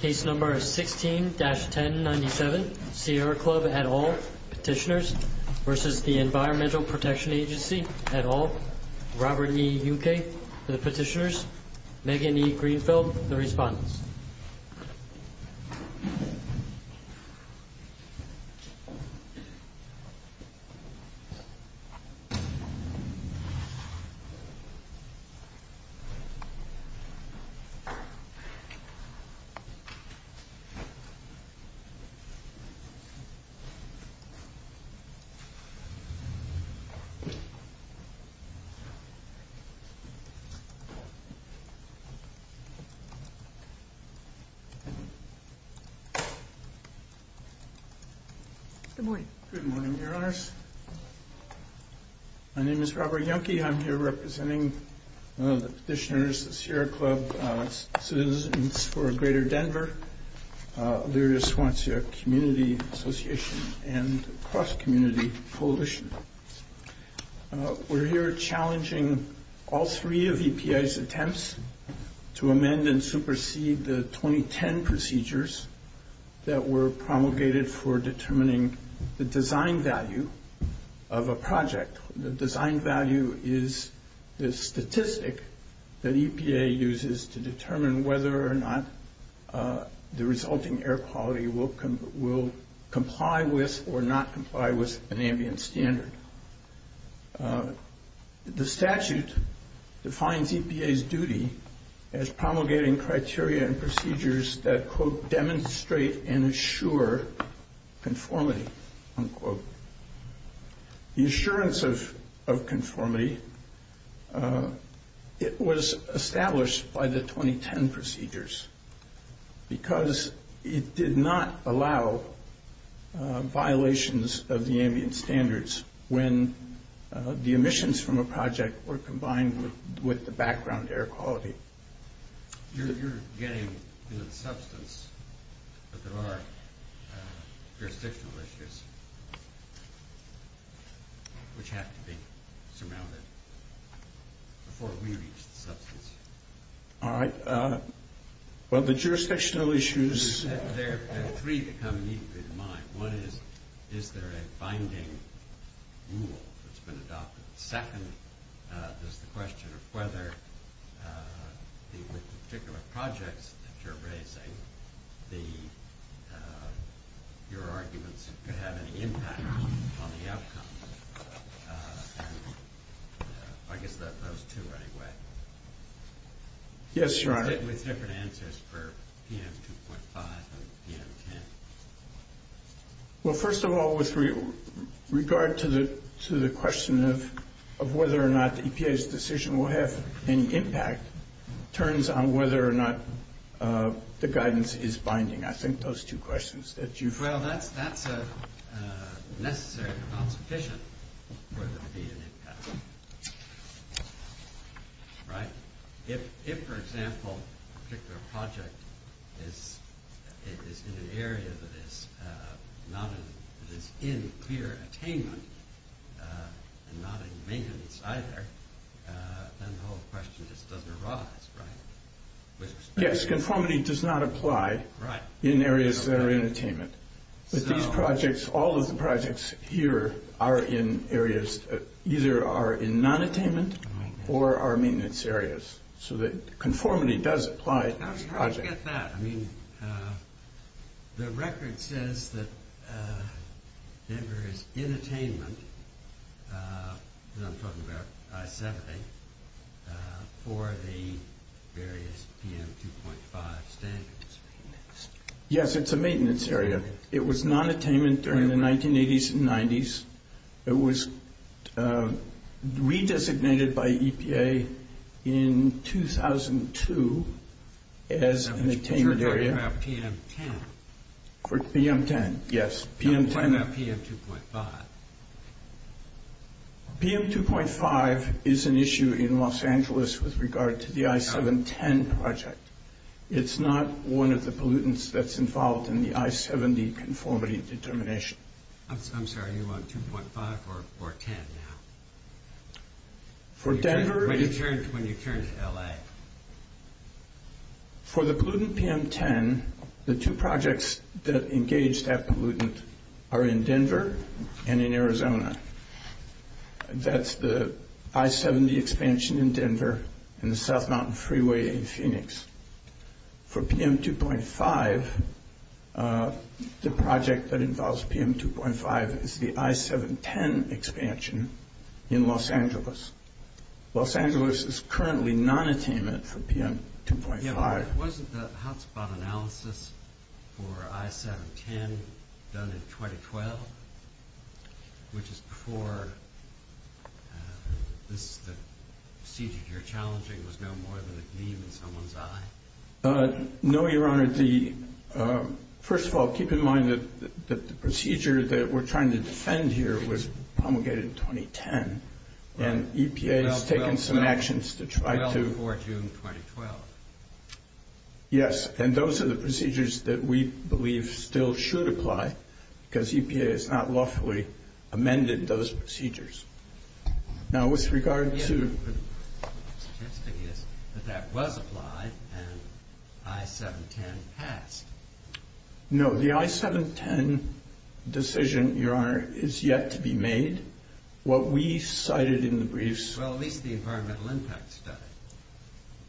Case number 16-1097 Sierra Club et al. Petitioners v. Environmental Protection Agency et al. Robert E. U.K. Petitioners, Megan E. Greenfield, the Respondents Good morning. Good morning, Your Honors. My name is Robert E. U. K. I'm here representing the petitioners, the Sierra Club, Citizens for a Greater Denver, Luria-Swansea Community Association, and the Cross-Community Coalition. We're here challenging all three of EPA's attempts to amend and supersede the 2010 procedures that were promulgated for determining the design value of a project. The design value is the statistic that EPA uses to determine whether or not the resulting air quality will comply with or not comply with an ambient standard. The statute defines EPA's duty as promulgating criteria and procedures that, quote, demonstrate and assure conformity, unquote. The assurance of conformity, it was established by the 2010 procedures because it did not allow violations of the ambient standards when the emissions from a project were combined with the background air quality. You're getting into the substance, but there are jurisdictional issues which have to be surmounted before we reach the substance. All right. Well, the jurisdictional issues... There are three that come immediately to mind. One is, is there a binding rule that's been adopted? Second is the question of whether the particular projects that you're raising, your arguments could have any impact on the outcome. And I guess those two right away. Yes, Your Honor. With different answers for PM 2.5 and PM 10. Well, first of all, with regard to the question of whether or not the EPA's decision will have any impact turns on whether or not the guidance is binding. I think those two questions that you've... Well, that's necessary but not sufficient for there to be an impact. Right? If, for example, a particular project is in an area that is in clear attainment and not in maintenance either, then the whole question just doesn't arise, right? Yes, conformity does not apply in areas that are in attainment. With these projects, all of the projects here are in areas, either are in non-attainment or are maintenance areas. So that conformity does apply to projects. How did you get that? I mean, the record says that Denver is in attainment, and I'm talking about I-70, for the various PM 2.5 standards. Yes, it's a maintenance area. It was non-attainment during the 1980s and 90s. It was re-designated by EPA in 2002 as an attainment area. I'm not sure you're talking about PM 10. PM 10, yes. I'm talking about PM 2.5. PM 2.5 is an issue in Los Angeles with regard to the I-710 project. It's not one of the pollutants that's involved in the I-70 conformity determination. I'm sorry, are you on 2.5 or 10 now? When you turn to LA. For the pollutant PM 10, the two projects that engage that pollutant are in Denver and in Arizona. That's the I-70 expansion in Denver and the South Mountain Freeway in Phoenix. For PM 2.5, the project that involves PM 2.5 is the I-710 expansion in Los Angeles. Los Angeles is currently non-attainment for PM 2.5. Yeah, but wasn't the hotspot analysis for I-710 done in 2012, which is before the procedure you're challenging was no more than a gleam in someone's eye? No, Your Honor. First of all, keep in mind that the procedure that we're trying to defend here was promulgated in 2010, and EPA has taken some actions to try to Well before June 2012. Yes, and those are the procedures that we believe still should apply because EPA has not lawfully amended those procedures. Now with regard to The interesting thing is that that was applied and I-710 passed. No, the I-710 decision, Your Honor, is yet to be made. What we cited in the briefs Well, at least the environmental impact study.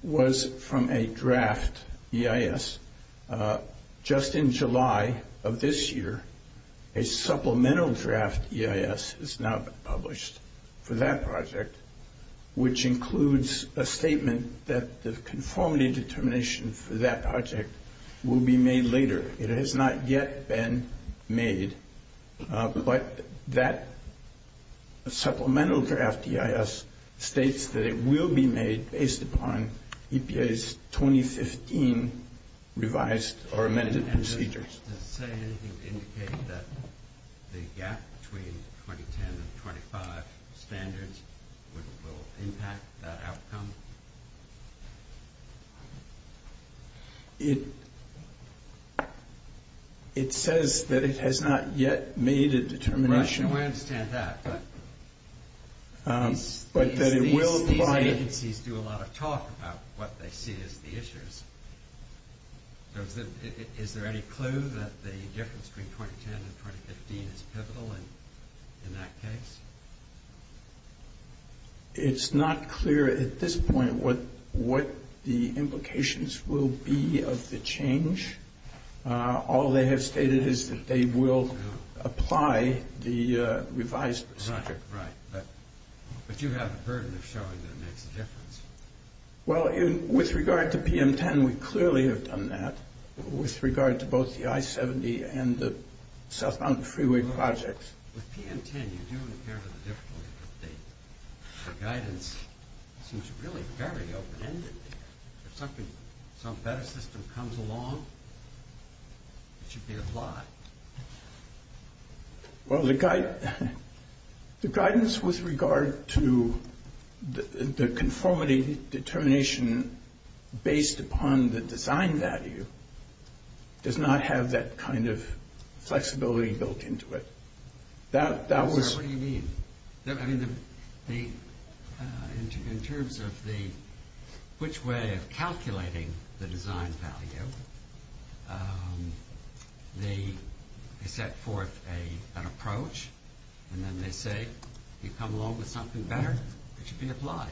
was from a draft EIS. Just in July of this year, a supplemental draft EIS is now published for that project, which includes a statement that the conformity determination for that project will be made later. It has not yet been made, but that supplemental draft EIS states that it will be made based upon EPA's 2015 revised or amended procedures. Does it say anything to indicate that the gap between 2010 and 2025 standards will impact that outcome? It says that it has not yet made a determination. I understand that, but these agencies do a lot of talk about what they see as the issues. Is there any clue that the difference between 2010 and 2015 is pivotal in that case? It's not clear at this point what the implications will be of the change. All they have stated is that they will apply the revised procedure. Right, but you have a burden of showing that makes a difference. Well, with regard to PM10, we clearly have done that with regard to both the I-70 and the southbound freeway projects. With PM10, you do appear to have a difficulty with the guidance. It seems really very open-ended. If some better system comes along, it should be a lot. Well, the guidance with regard to the conformity determination based upon the design value does not have that kind of flexibility built into it. Sir, what do you mean? I mean, in terms of which way of calculating the design value, they set forth an approach and then they say, you come along with something better, it should be applied.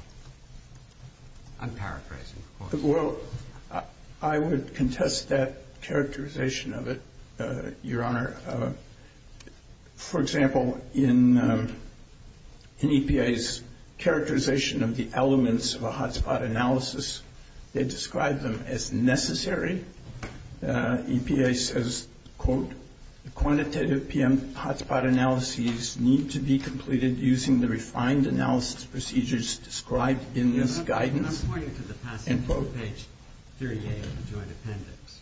I'm paraphrasing, of course. Well, I would contest that characterization of it, Your Honor. For example, in EPA's characterization of the elements of a hotspot analysis, they describe them as necessary. EPA says, quote, The quantitative PM hotspot analyses need to be completed using the refined analysis procedures described in this guidance. I'm pointing to the passage of page 38 of the joint appendix.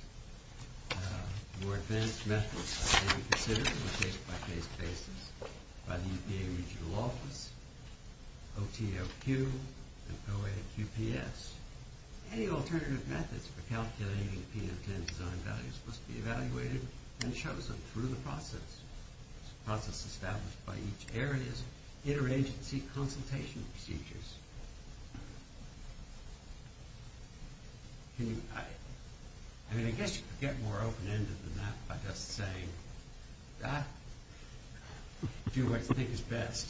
More advanced methods are being considered on a case-by-case basis by the EPA regional office, OTOQ, and OAQPS. Any alternative methods for calculating the PM10 design value must be evaluated and chosen through the process. This process is established by each area's interagency consultation procedures. I mean, I guess you could get more open-ended than that by just saying, do what you think is best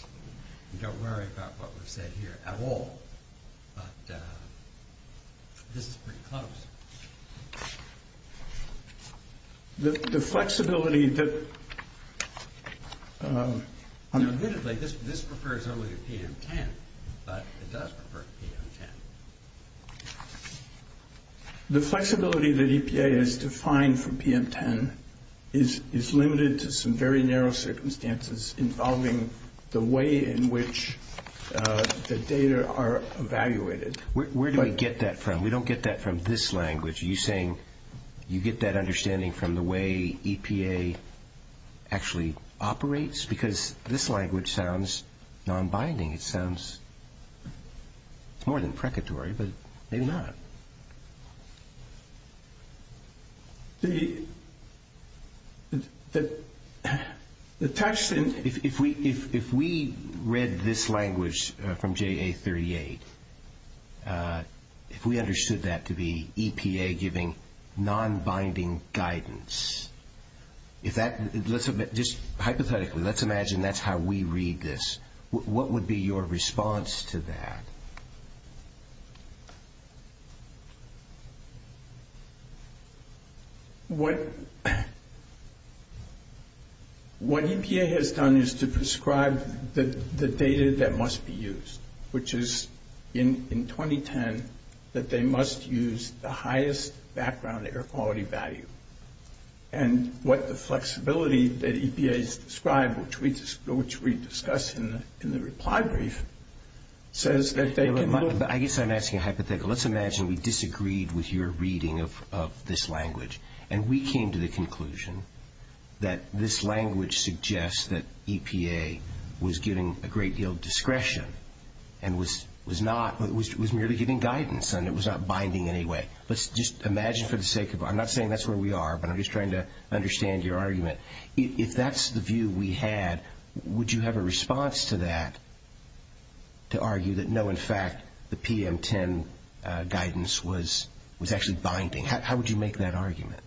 and don't worry about what we've said here at all. But this is pretty close. The flexibility that... Now, admittedly, this refers only to PM10, but it does refer to PM10. The flexibility that EPA has defined for PM10 is limited to some very narrow circumstances involving the way in which the data are evaluated. Where do we get that from? We don't get that from this language. Are you saying you get that understanding from the way EPA actually operates? Because this language sounds non-binding. It sounds more than precatory, but maybe not. The text in... If we read this language from JA38, if we understood that to be EPA giving non-binding guidance, just hypothetically, let's imagine that's how we read this. What would be your response to that? What EPA has done is to prescribe the data that must be used, which is, in 2010, that they must use the highest background air quality value. And what the flexibility that EPA has described, which we discuss in the reply brief, says that they can... I guess I'm asking a hypothetical. Let's imagine we disagreed with your reading of this language, and we came to the conclusion that this language suggests that EPA was giving a great deal of discretion and was merely giving guidance and it was not binding in any way. Let's just imagine for the sake of... I'm not saying that's where we are, but I'm just trying to understand your argument. If that's the view we had, would you have a response to that to argue that, no, in fact, the PM10 guidance was actually binding? How would you make that argument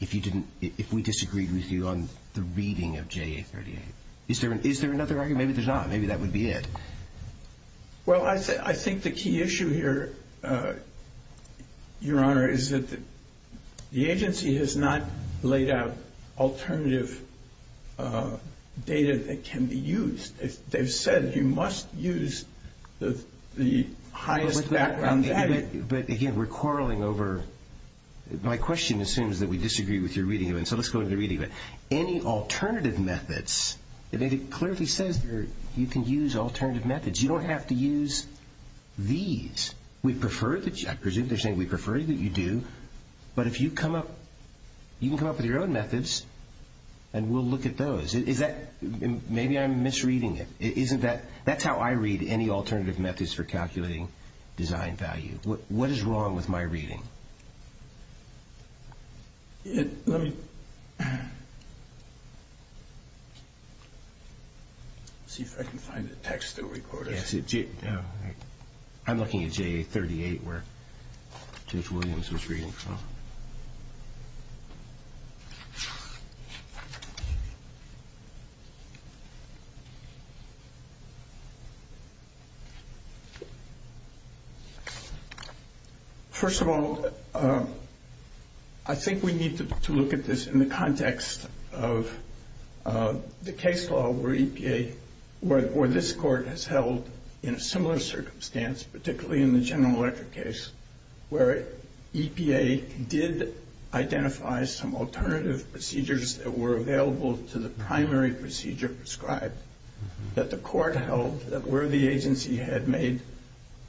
if we disagreed with you on the reading of JA38? Is there another argument? Maybe there's not. Maybe that would be it. Well, I think the key issue here, Your Honor, is that the agency has not laid out alternative data that can be used. They've said you must use the highest background data. But, again, we're quarreling over... My question assumes that we disagree with your reading of it, so let's go to the reading of it. Any alternative methods... It clearly says you can use alternative methods. You don't have to use these. I presume they're saying we prefer that you do, but you can come up with your own methods and we'll look at those. Maybe I'm misreading it. That's how I read any alternative methods for calculating design value. What is wrong with my reading? Let's see if I can find the text that we quoted. I'm looking at JA38 where Judge Williams was reading from. First of all, I think we need to look at this in the context of the case law where EPA... where this court has held in a similar circumstance, particularly in the General Electric case, where EPA did identify some alternative procedures that were available to the primary procedure prescribed, that the court held that where the agency had made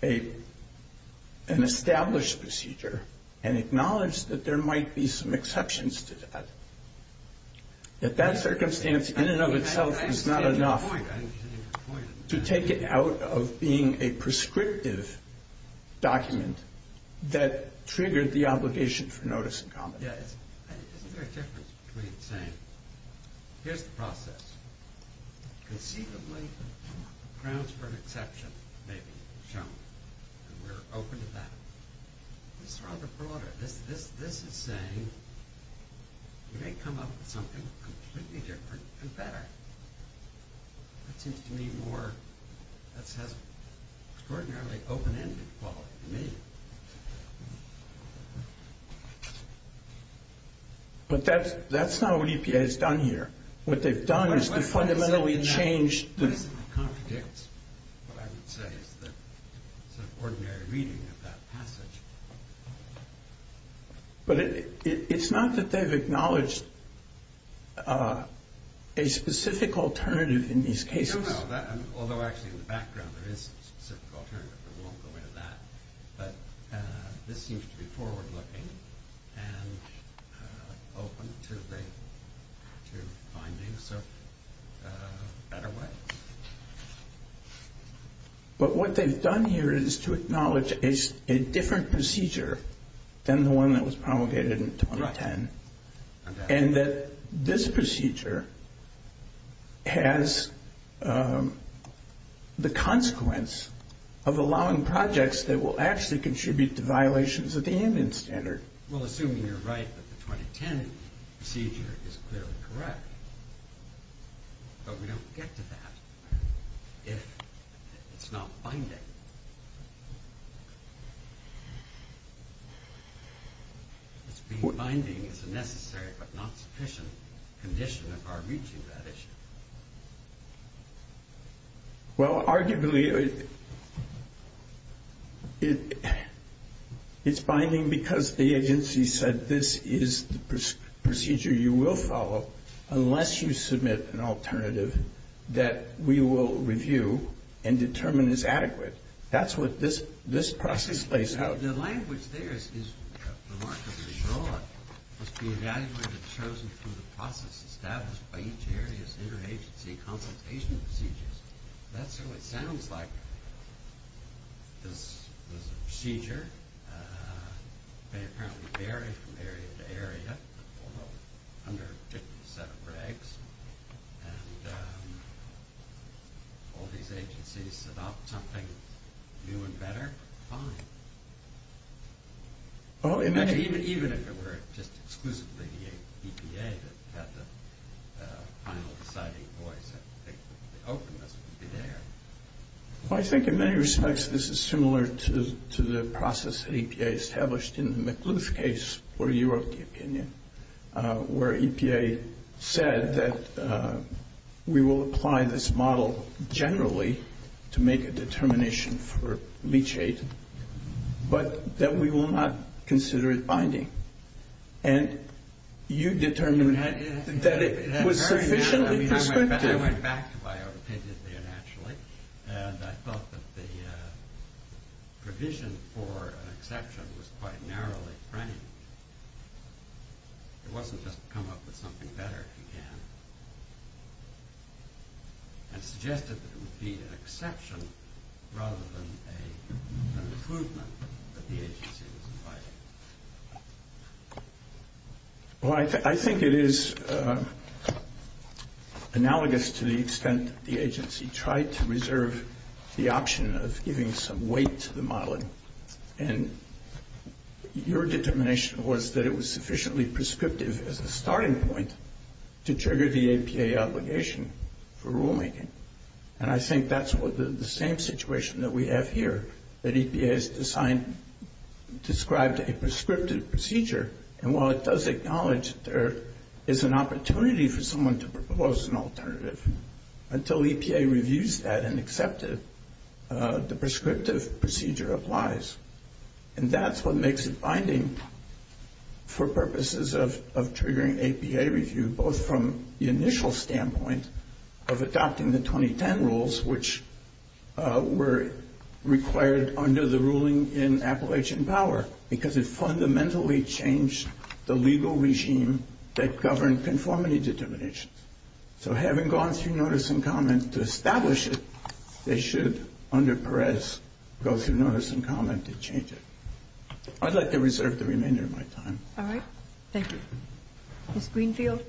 an established procedure and acknowledged that there might be some exceptions to that, that that circumstance in and of itself is not enough to take it out of being a prescriptive document that triggered the obligation for notice and comment. Isn't there a difference between saying, here's the process. Conceivably grounds for an exception may be shown. We're open to that. This is rather broader. This is saying you may come up with something completely different and better. That seems to me more... that has extraordinarily open-ended quality to me. But that's not what EPA has done here. What they've done is to fundamentally change... It contradicts what I would say is the ordinary reading of that passage. But it's not that they've acknowledged a specific alternative in these cases. No, no. Although actually in the background there is a specific alternative. We won't go into that. But this seems to be forward-looking and open to findings of a better way. But what they've done here is to acknowledge a different procedure than the one that was promulgated in 2010. And that this procedure has the consequence of allowing projects that will actually contribute to violations of the ambient standard. Well, assuming you're right that the 2010 procedure is clearly correct. But we don't get to that if it's not binding. Binding is a necessary but not sufficient condition of our reaching that issue. Well, arguably it's binding because the agency said that this is the procedure you will follow unless you submit an alternative that we will review and determine is adequate. That's what this process plays out. The language there is remarkably broad. It must be evaluated and chosen through the process established by each area's interagency consultation procedures. That's what it sounds like. This is a procedure. They apparently vary from area to area under a particular set of regs. And all these agencies set up something new and better, fine. Even if it were just exclusively the EPA that had the final deciding voice, I think the openness would be there. Well, I think in many respects this is similar to the process EPA established in the McLuth case where you wrote the opinion, where EPA said that we will apply this model generally to make a determination for leachate, but that we will not consider it binding. And you determined that it was sufficiently prescriptive. I went back to my opinion there naturally, and I thought that the provision for an exception was quite narrowly framed. It wasn't just come up with something better if you can, and suggested that it would be an exception rather than an improvement that the agency was inviting. Well, I think it is analogous to the extent the agency tried to reserve the option of giving some weight to the modeling. And your determination was that it was sufficiently prescriptive as a starting point to trigger the EPA obligation for rulemaking. And I think that's the same situation that we have here, that EPA has described a prescriptive procedure. And while it does acknowledge there is an opportunity for someone to propose an alternative, until EPA reviews that and accepts it, the prescriptive procedure applies. And that's what makes it binding for purposes of triggering EPA review, both from the initial standpoint of adopting the 2010 rules, which were required under the ruling in Appalachian Power, because it fundamentally changed the legal regime that governed conformity determinations. So having gone through notice and comment to establish it, they should, under Perez, go through notice and comment to change it. I'd like to reserve the remainder of my time. All right. Thank you. Ms. Greenfield?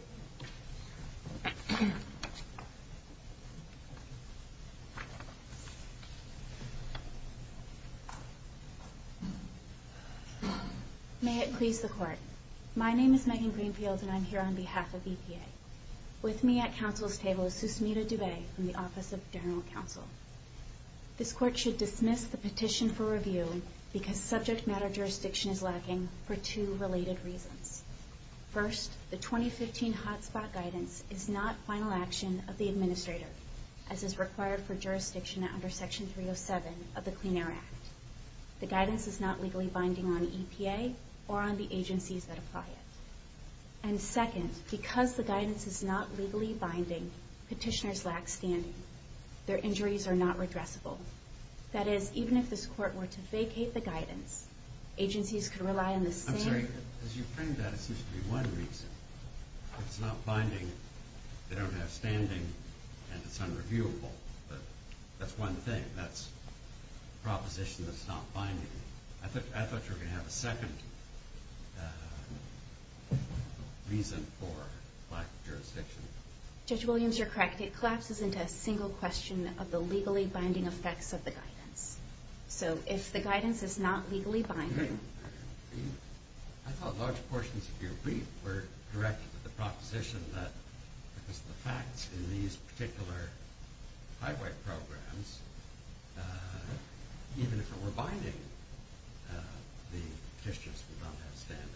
May it please the Court. My name is Megan Greenfield, and I'm here on behalf of EPA. With me at Council's table is Susmita Dubey from the Office of General Counsel. This Court should dismiss the petition for review because subject matter jurisdiction is lacking for two related reasons. First, the 2015 hotspot guidance is not final action of the administrator, as is required for jurisdiction under Section 307 of the Clean Air Act. The guidance is not legally binding on EPA or on the agencies that apply it. And second, because the guidance is not legally binding, petitioners lack standing. Their injuries are not redressable. That is, even if this Court were to vacate the guidance, agencies could rely on the same- I'm sorry. As you framed that, it seems to be one reason. It's not binding, they don't have standing, and it's unreviewable. But that's one thing. That's a proposition that's not binding. I thought you were going to have a second reason for lack of jurisdiction. Judge Williams, you're correct. It collapses into a single question of the legally binding effects of the guidance. So if the guidance is not legally binding- I thought large portions of your brief were directed at the proposition that because of the facts in these particular highway programs, even if it were binding, the petitioners would not have standing.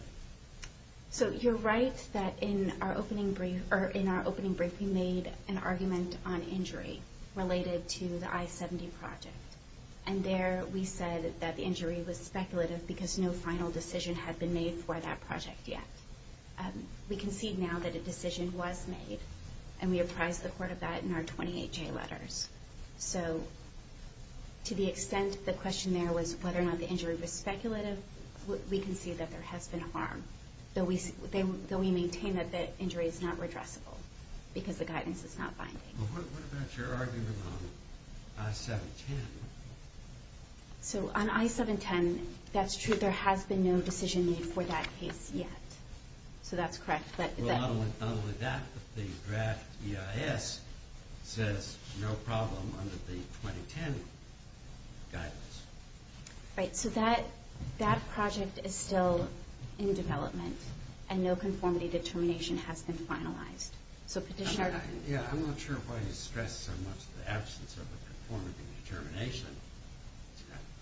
So you're right that in our opening brief we made an argument on injury related to the I-70 project. And there we said that the injury was speculative because no final decision had been made for that project yet. We concede now that a decision was made, and we apprise the Court of that in our 28J letters. So to the extent the question there was whether or not the injury was speculative, we concede that there has been harm, though we maintain that the injury is not redressable because the guidance is not binding. Well, what about your argument on I-710? So on I-710, that's true. There has been no decision made for that case yet. So that's correct. Well, along with that, the draft EIS says no problem under the 2010 guidance. Right. So that project is still in development, and no conformity determination has been finalized. So Petitioner? Yeah, I'm not sure why you stress so much the absence of a conformity determination.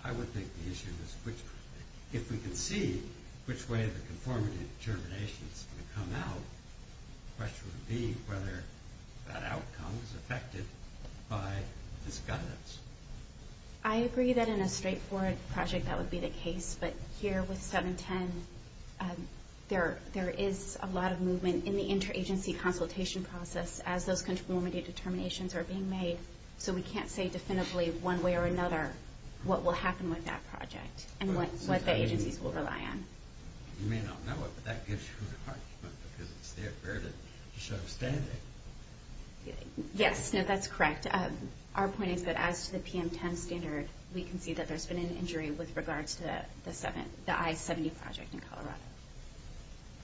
I would think the issue is if we can see which way the conformity determination is going to come out, the question would be whether that outcome is affected by this guidance. I agree that in a straightforward project that would be the case, but here with 710 there is a lot of movement in the interagency consultation process as those conformity determinations are being made. So we can't say definitively one way or another what will happen with that project and what the agencies will rely on. You may not know it, but that gives you an argument because it's there to show standing. Yes, that's correct. Our point is that as to the PM10 standard, we can see that there's been an injury with regards to the I-70 project in Colorado.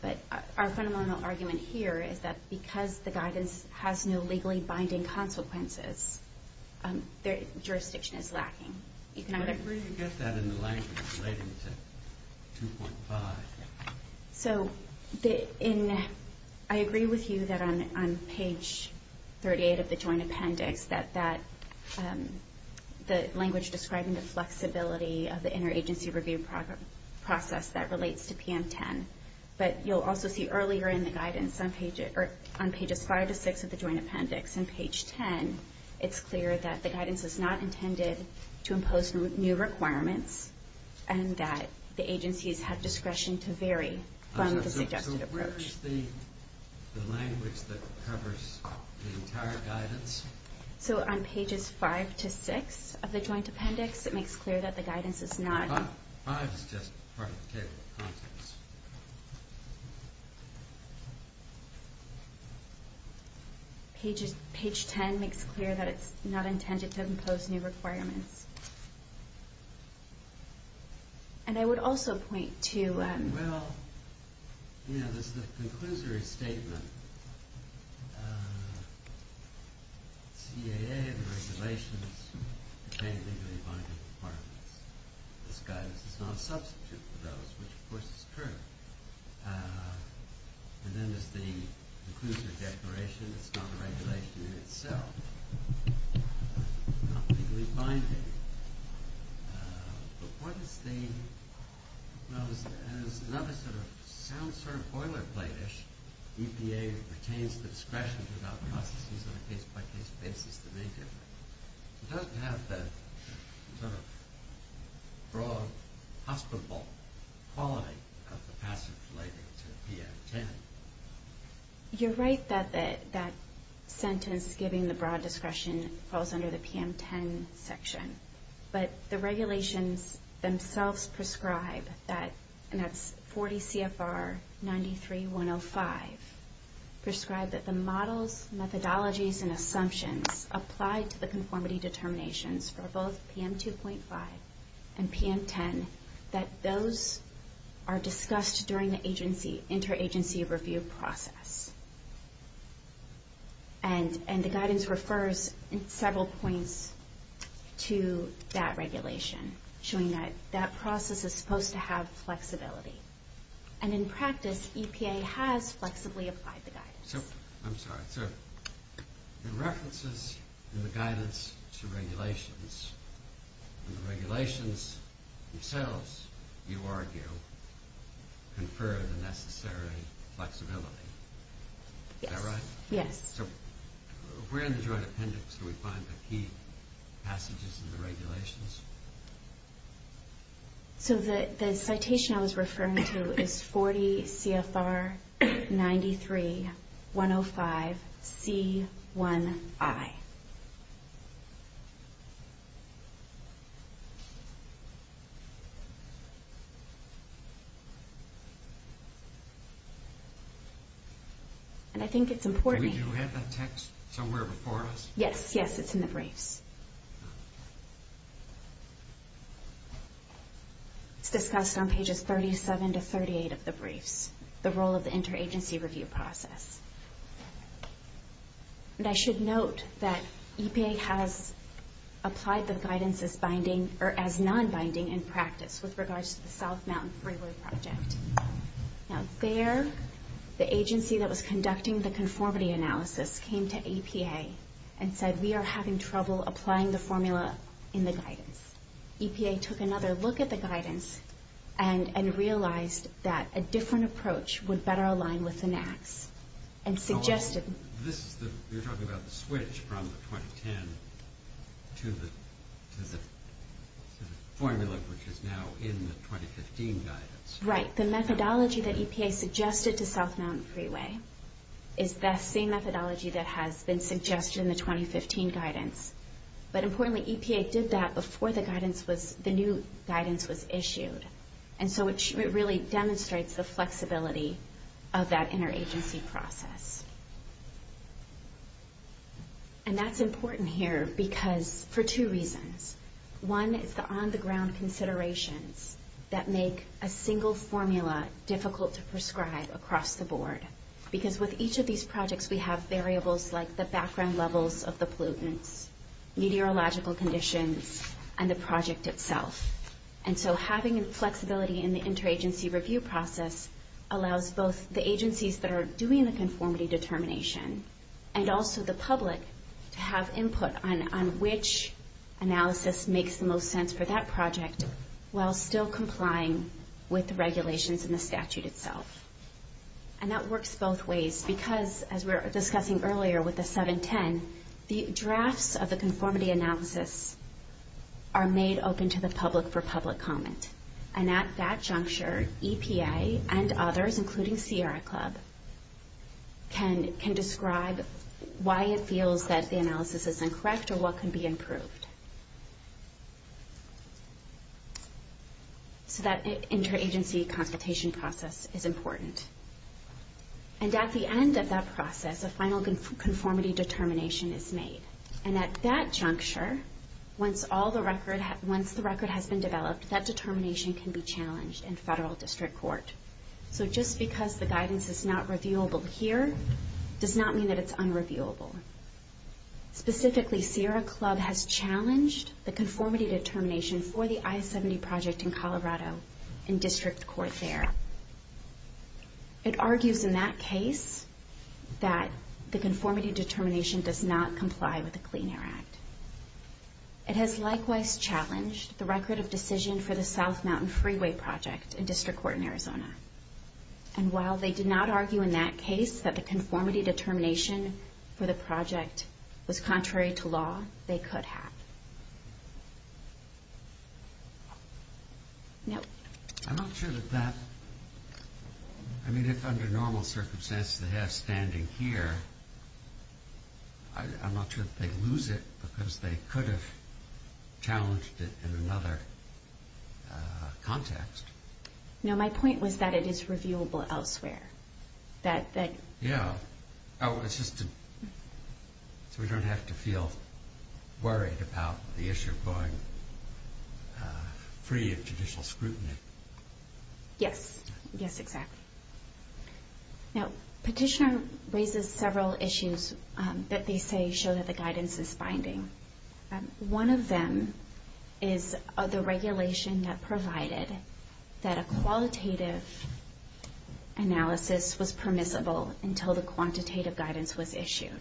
But our fundamental argument here is that because the guidance has no legally binding consequences, the jurisdiction is lacking. Where did you get that in the language relating to 2.5? So I agree with you that on page 38 of the Joint Appendix that the language describing the flexibility of the interagency review process that relates to PM10. But you'll also see earlier in the guidance on pages 5 to 6 of the Joint Appendix, on page 10 it's clear that the guidance is not intended to impose new requirements and that the agencies have discretion to vary from the suggested approach. So where is the language that covers the entire guidance? So on pages 5 to 6 of the Joint Appendix, it makes clear that the guidance is not... 5 is just part of the table of contents. Page 10 makes clear that it's not intended to impose new requirements. And I would also point to... Well, you know, there's the conclusory statement. CAA, the regulations, contain legally binding requirements. This guidance is not a substitute for those, which of course is true. And then there's the conclusory declaration. It's not a regulation in itself. Not legally binding. But what is the... Well, as another sort of sound sort of boilerplate-ish, EPA retains the discretion to allow processes on a case-by-case basis to make it. It doesn't have the sort of broad, hospitable quality of the passage relating to PM10. You're right that that sentence giving the broad discretion falls under the PM10 section. But the regulations themselves prescribe that, and that's 40 CFR 93-105, prescribe that the models, methodologies, and assumptions applied to the conformity determinations for both PM2.5 and PM10, that those are discussed during the interagency review process. And the guidance refers in several points to that regulation, showing that that process is supposed to have flexibility. And in practice, EPA has flexibly applied the guidance. So, I'm sorry. So, the references in the guidance to regulations, and the regulations themselves, you argue, confer the necessary flexibility. Is that right? Yes. So, where in the Joint Appendix do we find the key passages in the regulations? So, the citation I was referring to is 40 CFR 93-105C1I. And I think it's important. Do we have that text somewhere before us? Yes. Yes, it's in the briefs. It's discussed on pages 37 to 38 of the briefs, the role of the interagency review process. And I should note that EPA has applied the guidance as non-binding in practice with regards to the South Mountain Freeway Project. Now, there, the agency that was conducting the conformity analysis came to EPA and said, we are having trouble applying the formula in the guidance. EPA took another look at the guidance, and realized that a different approach would better align with the NAAQS. You're talking about the switch from 2010 to the formula, which is now in the 2015 guidance. Right. The methodology that EPA suggested to South Mountain Freeway is that same methodology that has been suggested in the 2015 guidance. But importantly, EPA did that before the new guidance was issued. And so it really demonstrates the flexibility of that interagency process. And that's important here for two reasons. One is the on-the-ground considerations that make a single formula difficult to prescribe across the board. Because with each of these projects, we have variables like the background levels of the pollutants, meteorological conditions, and the project itself. And so having flexibility in the interagency review process allows both the agencies that are doing the conformity determination, and also the public to have input on which analysis makes the most sense for that project, while still complying with the regulations and the statute itself. And that works both ways. Because, as we were discussing earlier with the 710, the drafts of the conformity analysis are made open to the public for public comment. And at that juncture, EPA and others, including Sierra Club, can describe why it feels that the analysis is incorrect or what can be improved. So that interagency consultation process is important. And at the end of that process, a final conformity determination is made. And at that juncture, once the record has been developed, that determination can be challenged in federal district court. So just because the guidance is not reviewable here, does not mean that it's unreviewable. Specifically, Sierra Club has challenged the conformity determination for the I-70 project in Colorado in district court there. It argues in that case that the conformity determination does not comply with the Clean Air Act. It has likewise challenged the record of decision for the South Mountain Freeway project in district court in Arizona. And while they did not argue in that case that the conformity determination for the project was contrary to law, they could have. No. I'm not sure that that... I mean, if under normal circumstances they have standing here, I'm not sure that they'd lose it because they could have challenged it in another context. No, my point was that it is reviewable elsewhere. Yeah, so we don't have to feel worried about the issue going free of judicial scrutiny. Yes. Yes, exactly. Now, Petitioner raises several issues that they say show that the guidance is binding. One of them is the regulation that provided that a qualitative analysis was permissible until the quantitative guidance was issued.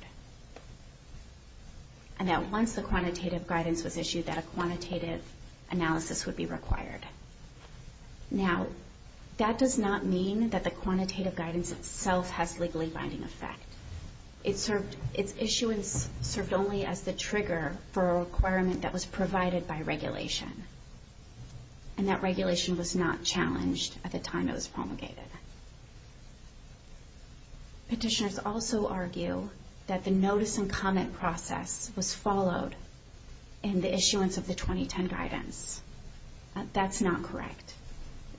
And that once the quantitative guidance was issued, that a quantitative analysis would be required. Now, that does not mean that the quantitative guidance itself has legally binding effect. Its issuance served only as the trigger for a requirement that was provided by regulation. And that regulation was not challenged at the time it was promulgated. Petitioners also argue that the notice and comment process was followed in the issuance of the 2010 guidance. That's not correct.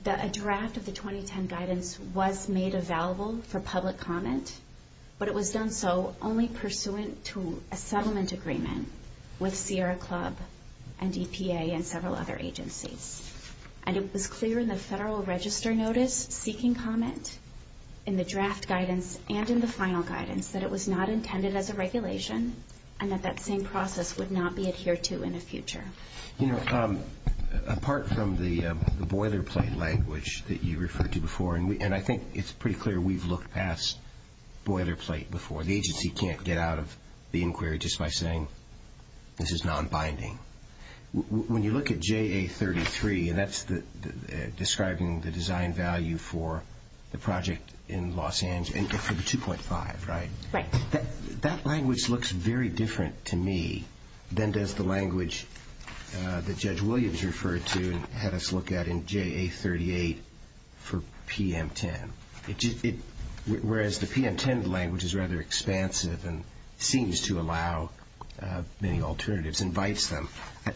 That a draft of the 2010 guidance was made available for public comment, but it was done so only pursuant to a settlement agreement with Sierra Club and EPA and several other agencies. And it was clear in the Federal Register notice seeking comment in the draft guidance and in the final guidance that it was not intended as a regulation and that that same process would not be adhered to in the future. You know, apart from the boilerplate language that you referred to before, and I think it's pretty clear we've looked past boilerplate before. The agency can't get out of the inquiry just by saying this is nonbinding. When you look at JA33, and that's describing the design value for the project in Los Angeles, for the 2.5, right? Right. That language looks very different to me than does the language that Judge Williams referred to and had us look at in JA38 for PM10, whereas the PM10 language is rather expansive and seems to allow many alternatives, invites them.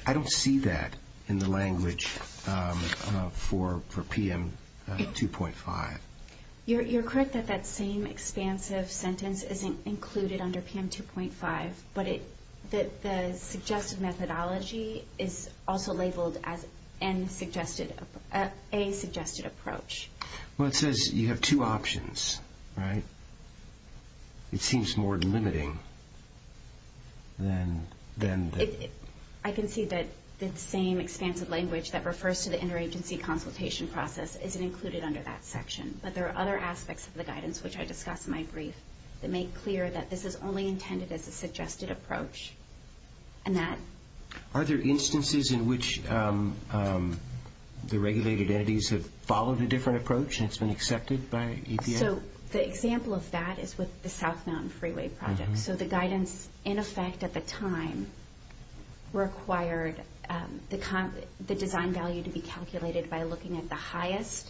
I don't see that in the language for PM2.5. You're correct that that same expansive sentence isn't included under PM2.5, but the suggested methodology is also labeled as a suggested approach. Well, it says you have two options, right? It seems more limiting than the... I can see that the same expansive language that refers to the interagency consultation process isn't included under that section, but there are other aspects of the guidance, which I discussed in my brief, that make clear that this is only intended as a suggested approach. Are there instances in which the regulated entities have followed a different approach and it's been accepted by EPA? The example of that is with the South Mountain Freeway project. The guidance, in effect at the time, required the design value to be calculated by looking at the highest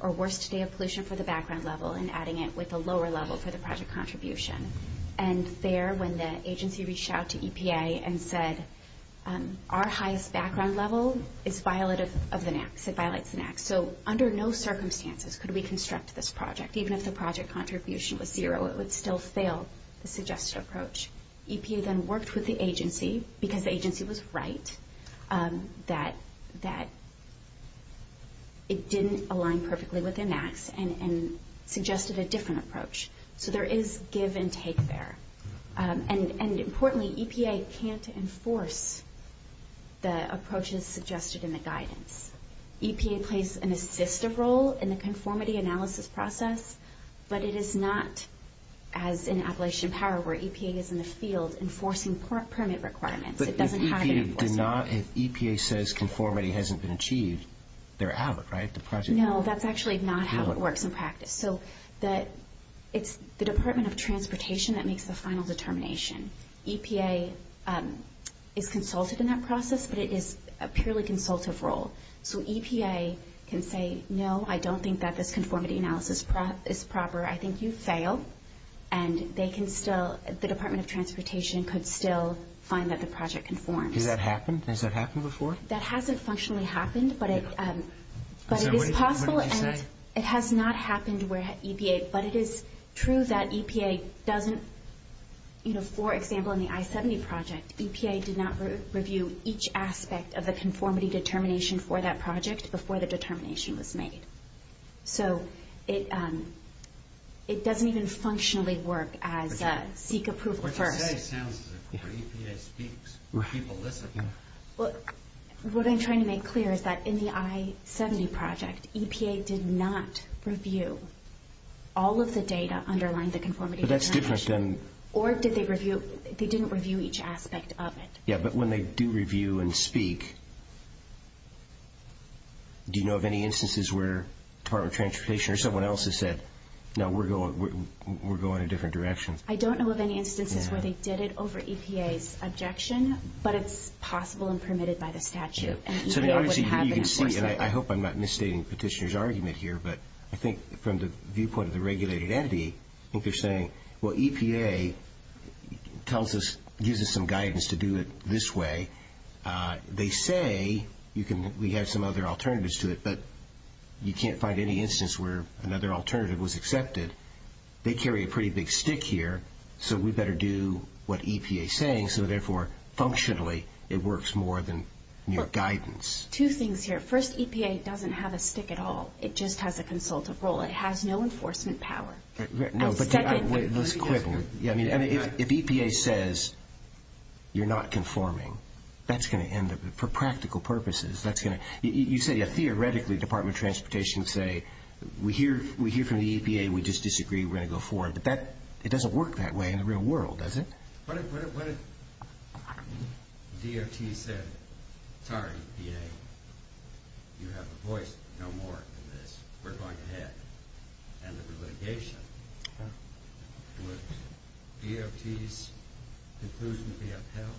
or worst day of pollution for the background level and adding it with the lower level for the project contribution. And there, when the agency reached out to EPA and said, our highest background level violates the NAAQS. So under no circumstances could we construct this project. Even if the project contribution was zero, it would still fail the suggested approach. EPA then worked with the agency, because the agency was right, that it didn't align perfectly with NAAQS and suggested a different approach. So there is give and take there. And importantly, EPA can't enforce the approaches suggested in the guidance. EPA plays an assistive role in the conformity analysis process, but it is not as in Appalachian Power where EPA is in the field enforcing permit requirements. It doesn't have any force. But if EPA says conformity hasn't been achieved, they're out, right? No, that's actually not how it works in practice. So it's the Department of Transportation that makes the final determination. EPA is consulted in that process, but it is a purely consultative role. So EPA can say, no, I don't think that this conformity analysis is proper. I think you failed. And they can still, the Department of Transportation could still find that the project conforms. Has that happened? Has that happened before? That hasn't functionally happened, but it is possible. What did you say? It has not happened where EPA, but it is true that EPA doesn't, you know, for example, in the I-70 project, EPA did not review each aspect of the conformity determination for that project before the determination was made. So it doesn't even functionally work as seek a proof first. What you say sounds as if EPA speaks, people listen. What I'm trying to make clear is that in the I-70 project, EPA did not review all of the data underlying the conformity determination. Or did they review, they didn't review each aspect of it. Yeah, but when they do review and speak, do you know of any instances where the Department of Transportation or someone else has said, no, we're going a different direction? I don't know of any instances where they did it over EPA's objection, but it's possible and permitted by the statute. So obviously you can see, and I hope I'm not misstating Petitioner's argument here, but I think from the viewpoint of the regulated entity, I think they're saying, well, EPA gives us some guidance to do it this way. They say we have some other alternatives to it, but you can't find any instance where another alternative was accepted. They carry a pretty big stick here, so we better do what EPA is saying, so therefore functionally it works more than your guidance. Two things here. First, EPA doesn't have a stick at all. It just has a consultative role. It has no enforcement power. No, but let's be clear. I mean, if EPA says you're not conforming, that's going to end up, for practical purposes, that's going to... You said, yeah, theoretically Department of Transportation would say, we hear from the EPA, we just disagree, we're going to go forward, but it doesn't work that way in the real world, does it? What if DOT said, sorry, EPA, you have a voice. No more of this. We're going ahead, end of the litigation. Would DOT's conclusion be upheld?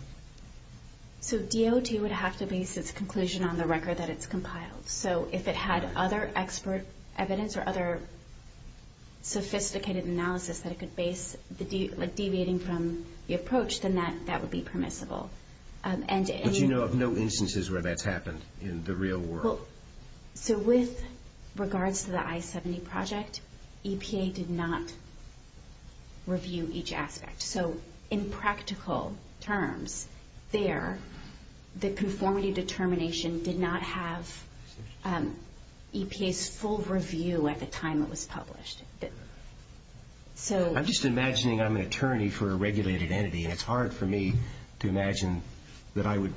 So DOT would have to base its conclusion on the record that it's compiled, so if it had other expert evidence or other sophisticated analysis that it could base, like deviating from the approach, then that would be permissible. But you know of no instances where that's happened in the real world? So with regards to the I-70 project, EPA did not review each aspect. So in practical terms, there, the conformity determination did not have EPA's full review at the time it was published. I'm just imagining I'm an attorney for a regulated entity, and it's hard for me to imagine that I would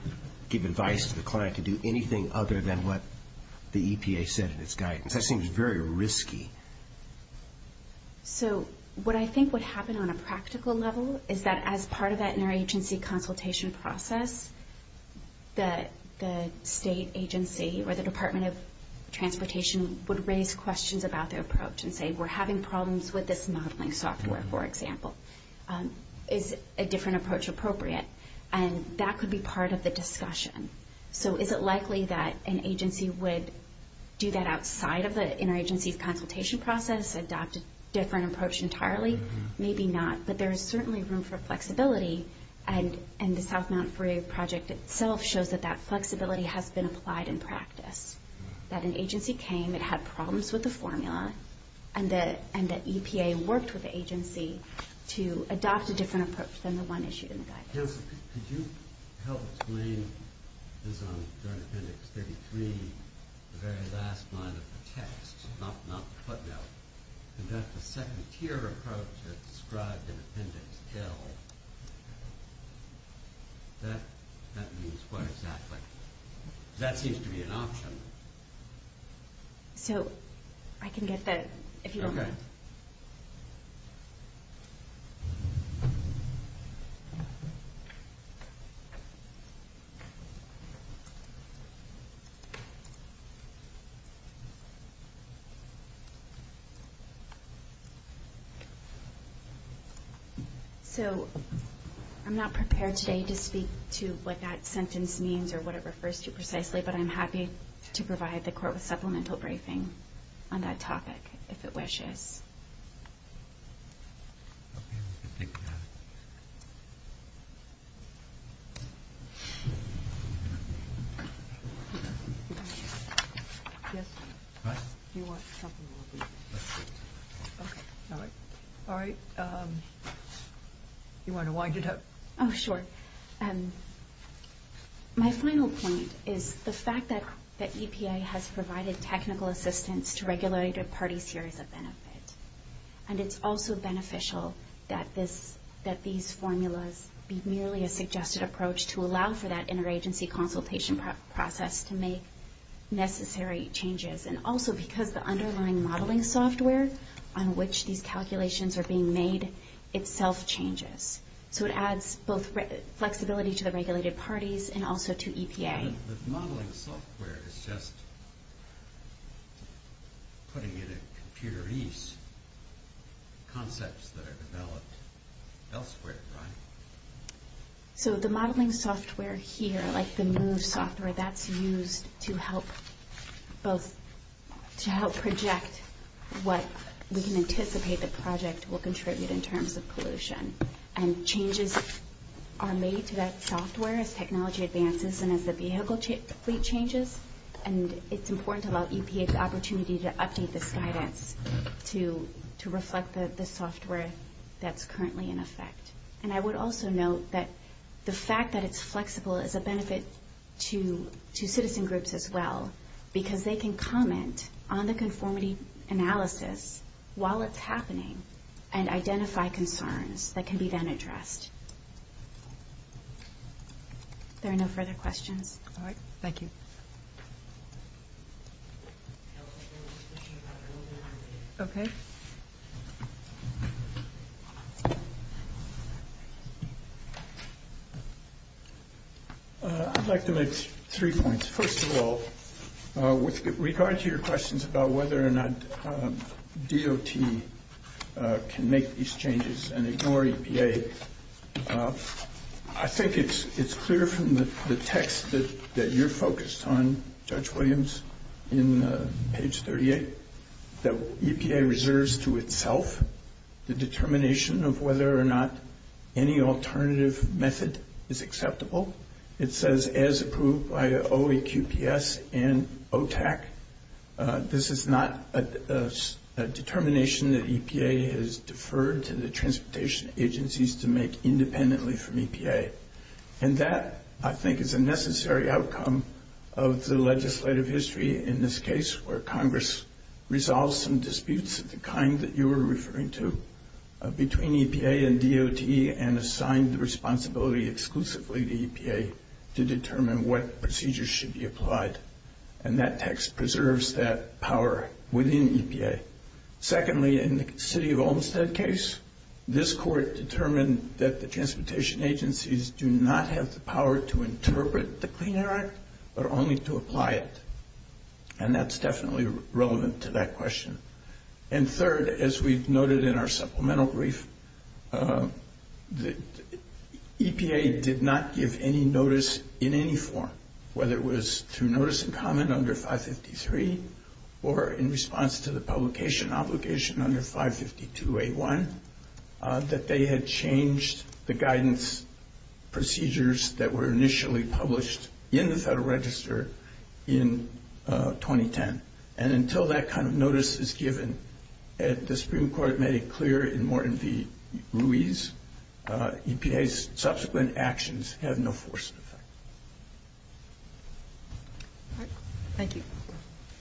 give advice to the client to do anything other than what the EPA said in its guidance. That seems very risky. So what I think would happen on a practical level is that as part of that interagency consultation process, the state agency or the Department of Transportation would raise questions about their approach and say, we're having problems with this modeling software, for example. Is a different approach appropriate? And that could be part of the discussion. So is it likely that an agency would do that outside of the interagency consultation process, adopt a different approach entirely? Maybe not, but there is certainly room for flexibility, and the South Mountain Freeway Project itself shows that that flexibility has been applied in practice. That an agency came, it had problems with the formula, and that EPA worked with the agency to adopt a different approach than the one issued in the guidance. Counsel, could you help explain this during Appendix 33, the very last line of the text, not the footnote, that the second tier approach that's described in Appendix L, that means what exactly? That seems to be an option. So I can get that if you want. So I'm not prepared today to speak to what that sentence means or what it refers to precisely, but I'm happy to provide the Court with supplemental briefing on that topic if it wishes. You want to wind it up? Oh, sure. My final point is the fact that EPA has provided technical assistance to regulated parties here as a benefit, and it's also beneficial that these formulas be merely a suggested approach to allow for that interagency consultation process to make necessary changes, and also because the underlying modeling software on which these calculations are being made itself changes. So it adds both flexibility to the regulated parties and also to EPA. So the modeling software here, like the MOVE software, that's used to help project what we can anticipate the project will contribute in terms of pollution. And changes are made to that software as technology advances and as the vehicle fleet changes, and it's important to allow EPA the opportunity to update this guidance to reflect the software that's currently in effect. And I would also note that the fact that it's flexible is a benefit to citizen groups as well, because they can comment on the conformity analysis while it's happening and identify concerns that can be then addressed. If there are no further questions. All right. Thank you. I'd like to make three points. First of all, with regard to your questions about whether or not DOT can make these changes and ignore EPA, I think it's clear from the text that you're focused on, Judge Williams, in page 38, that EPA reserves to itself the determination of whether or not any alternative method is acceptable. It says as approved by OEQPS and OTAC. This is not a determination that EPA has deferred to the transportation agencies to make independently from EPA. And that, I think, is a necessary outcome of the legislative history in this case, where Congress resolves some disputes of the kind that you were referring to between EPA and DOT and assigned the responsibility exclusively to EPA to determine what procedures should be applied. And that text preserves that power within EPA. Secondly, in the city of Olmstead case, this court determined that the transportation agencies do not have the power to interpret the Clean Air Act, but only to apply it. And that's definitely relevant to that question. And third, as we've noted in our supplemental brief, EPA did not give any notice in any form, whether it was through notice in common under 553 or in response to the publication obligation under 552A1, that they had changed the guidance procedures that were initially published in the Federal Register in 2010. And until that kind of notice is given, and the Supreme Court made it clear in Morton v. Ruiz, EPA's subsequent actions have no force in effect. Thank you.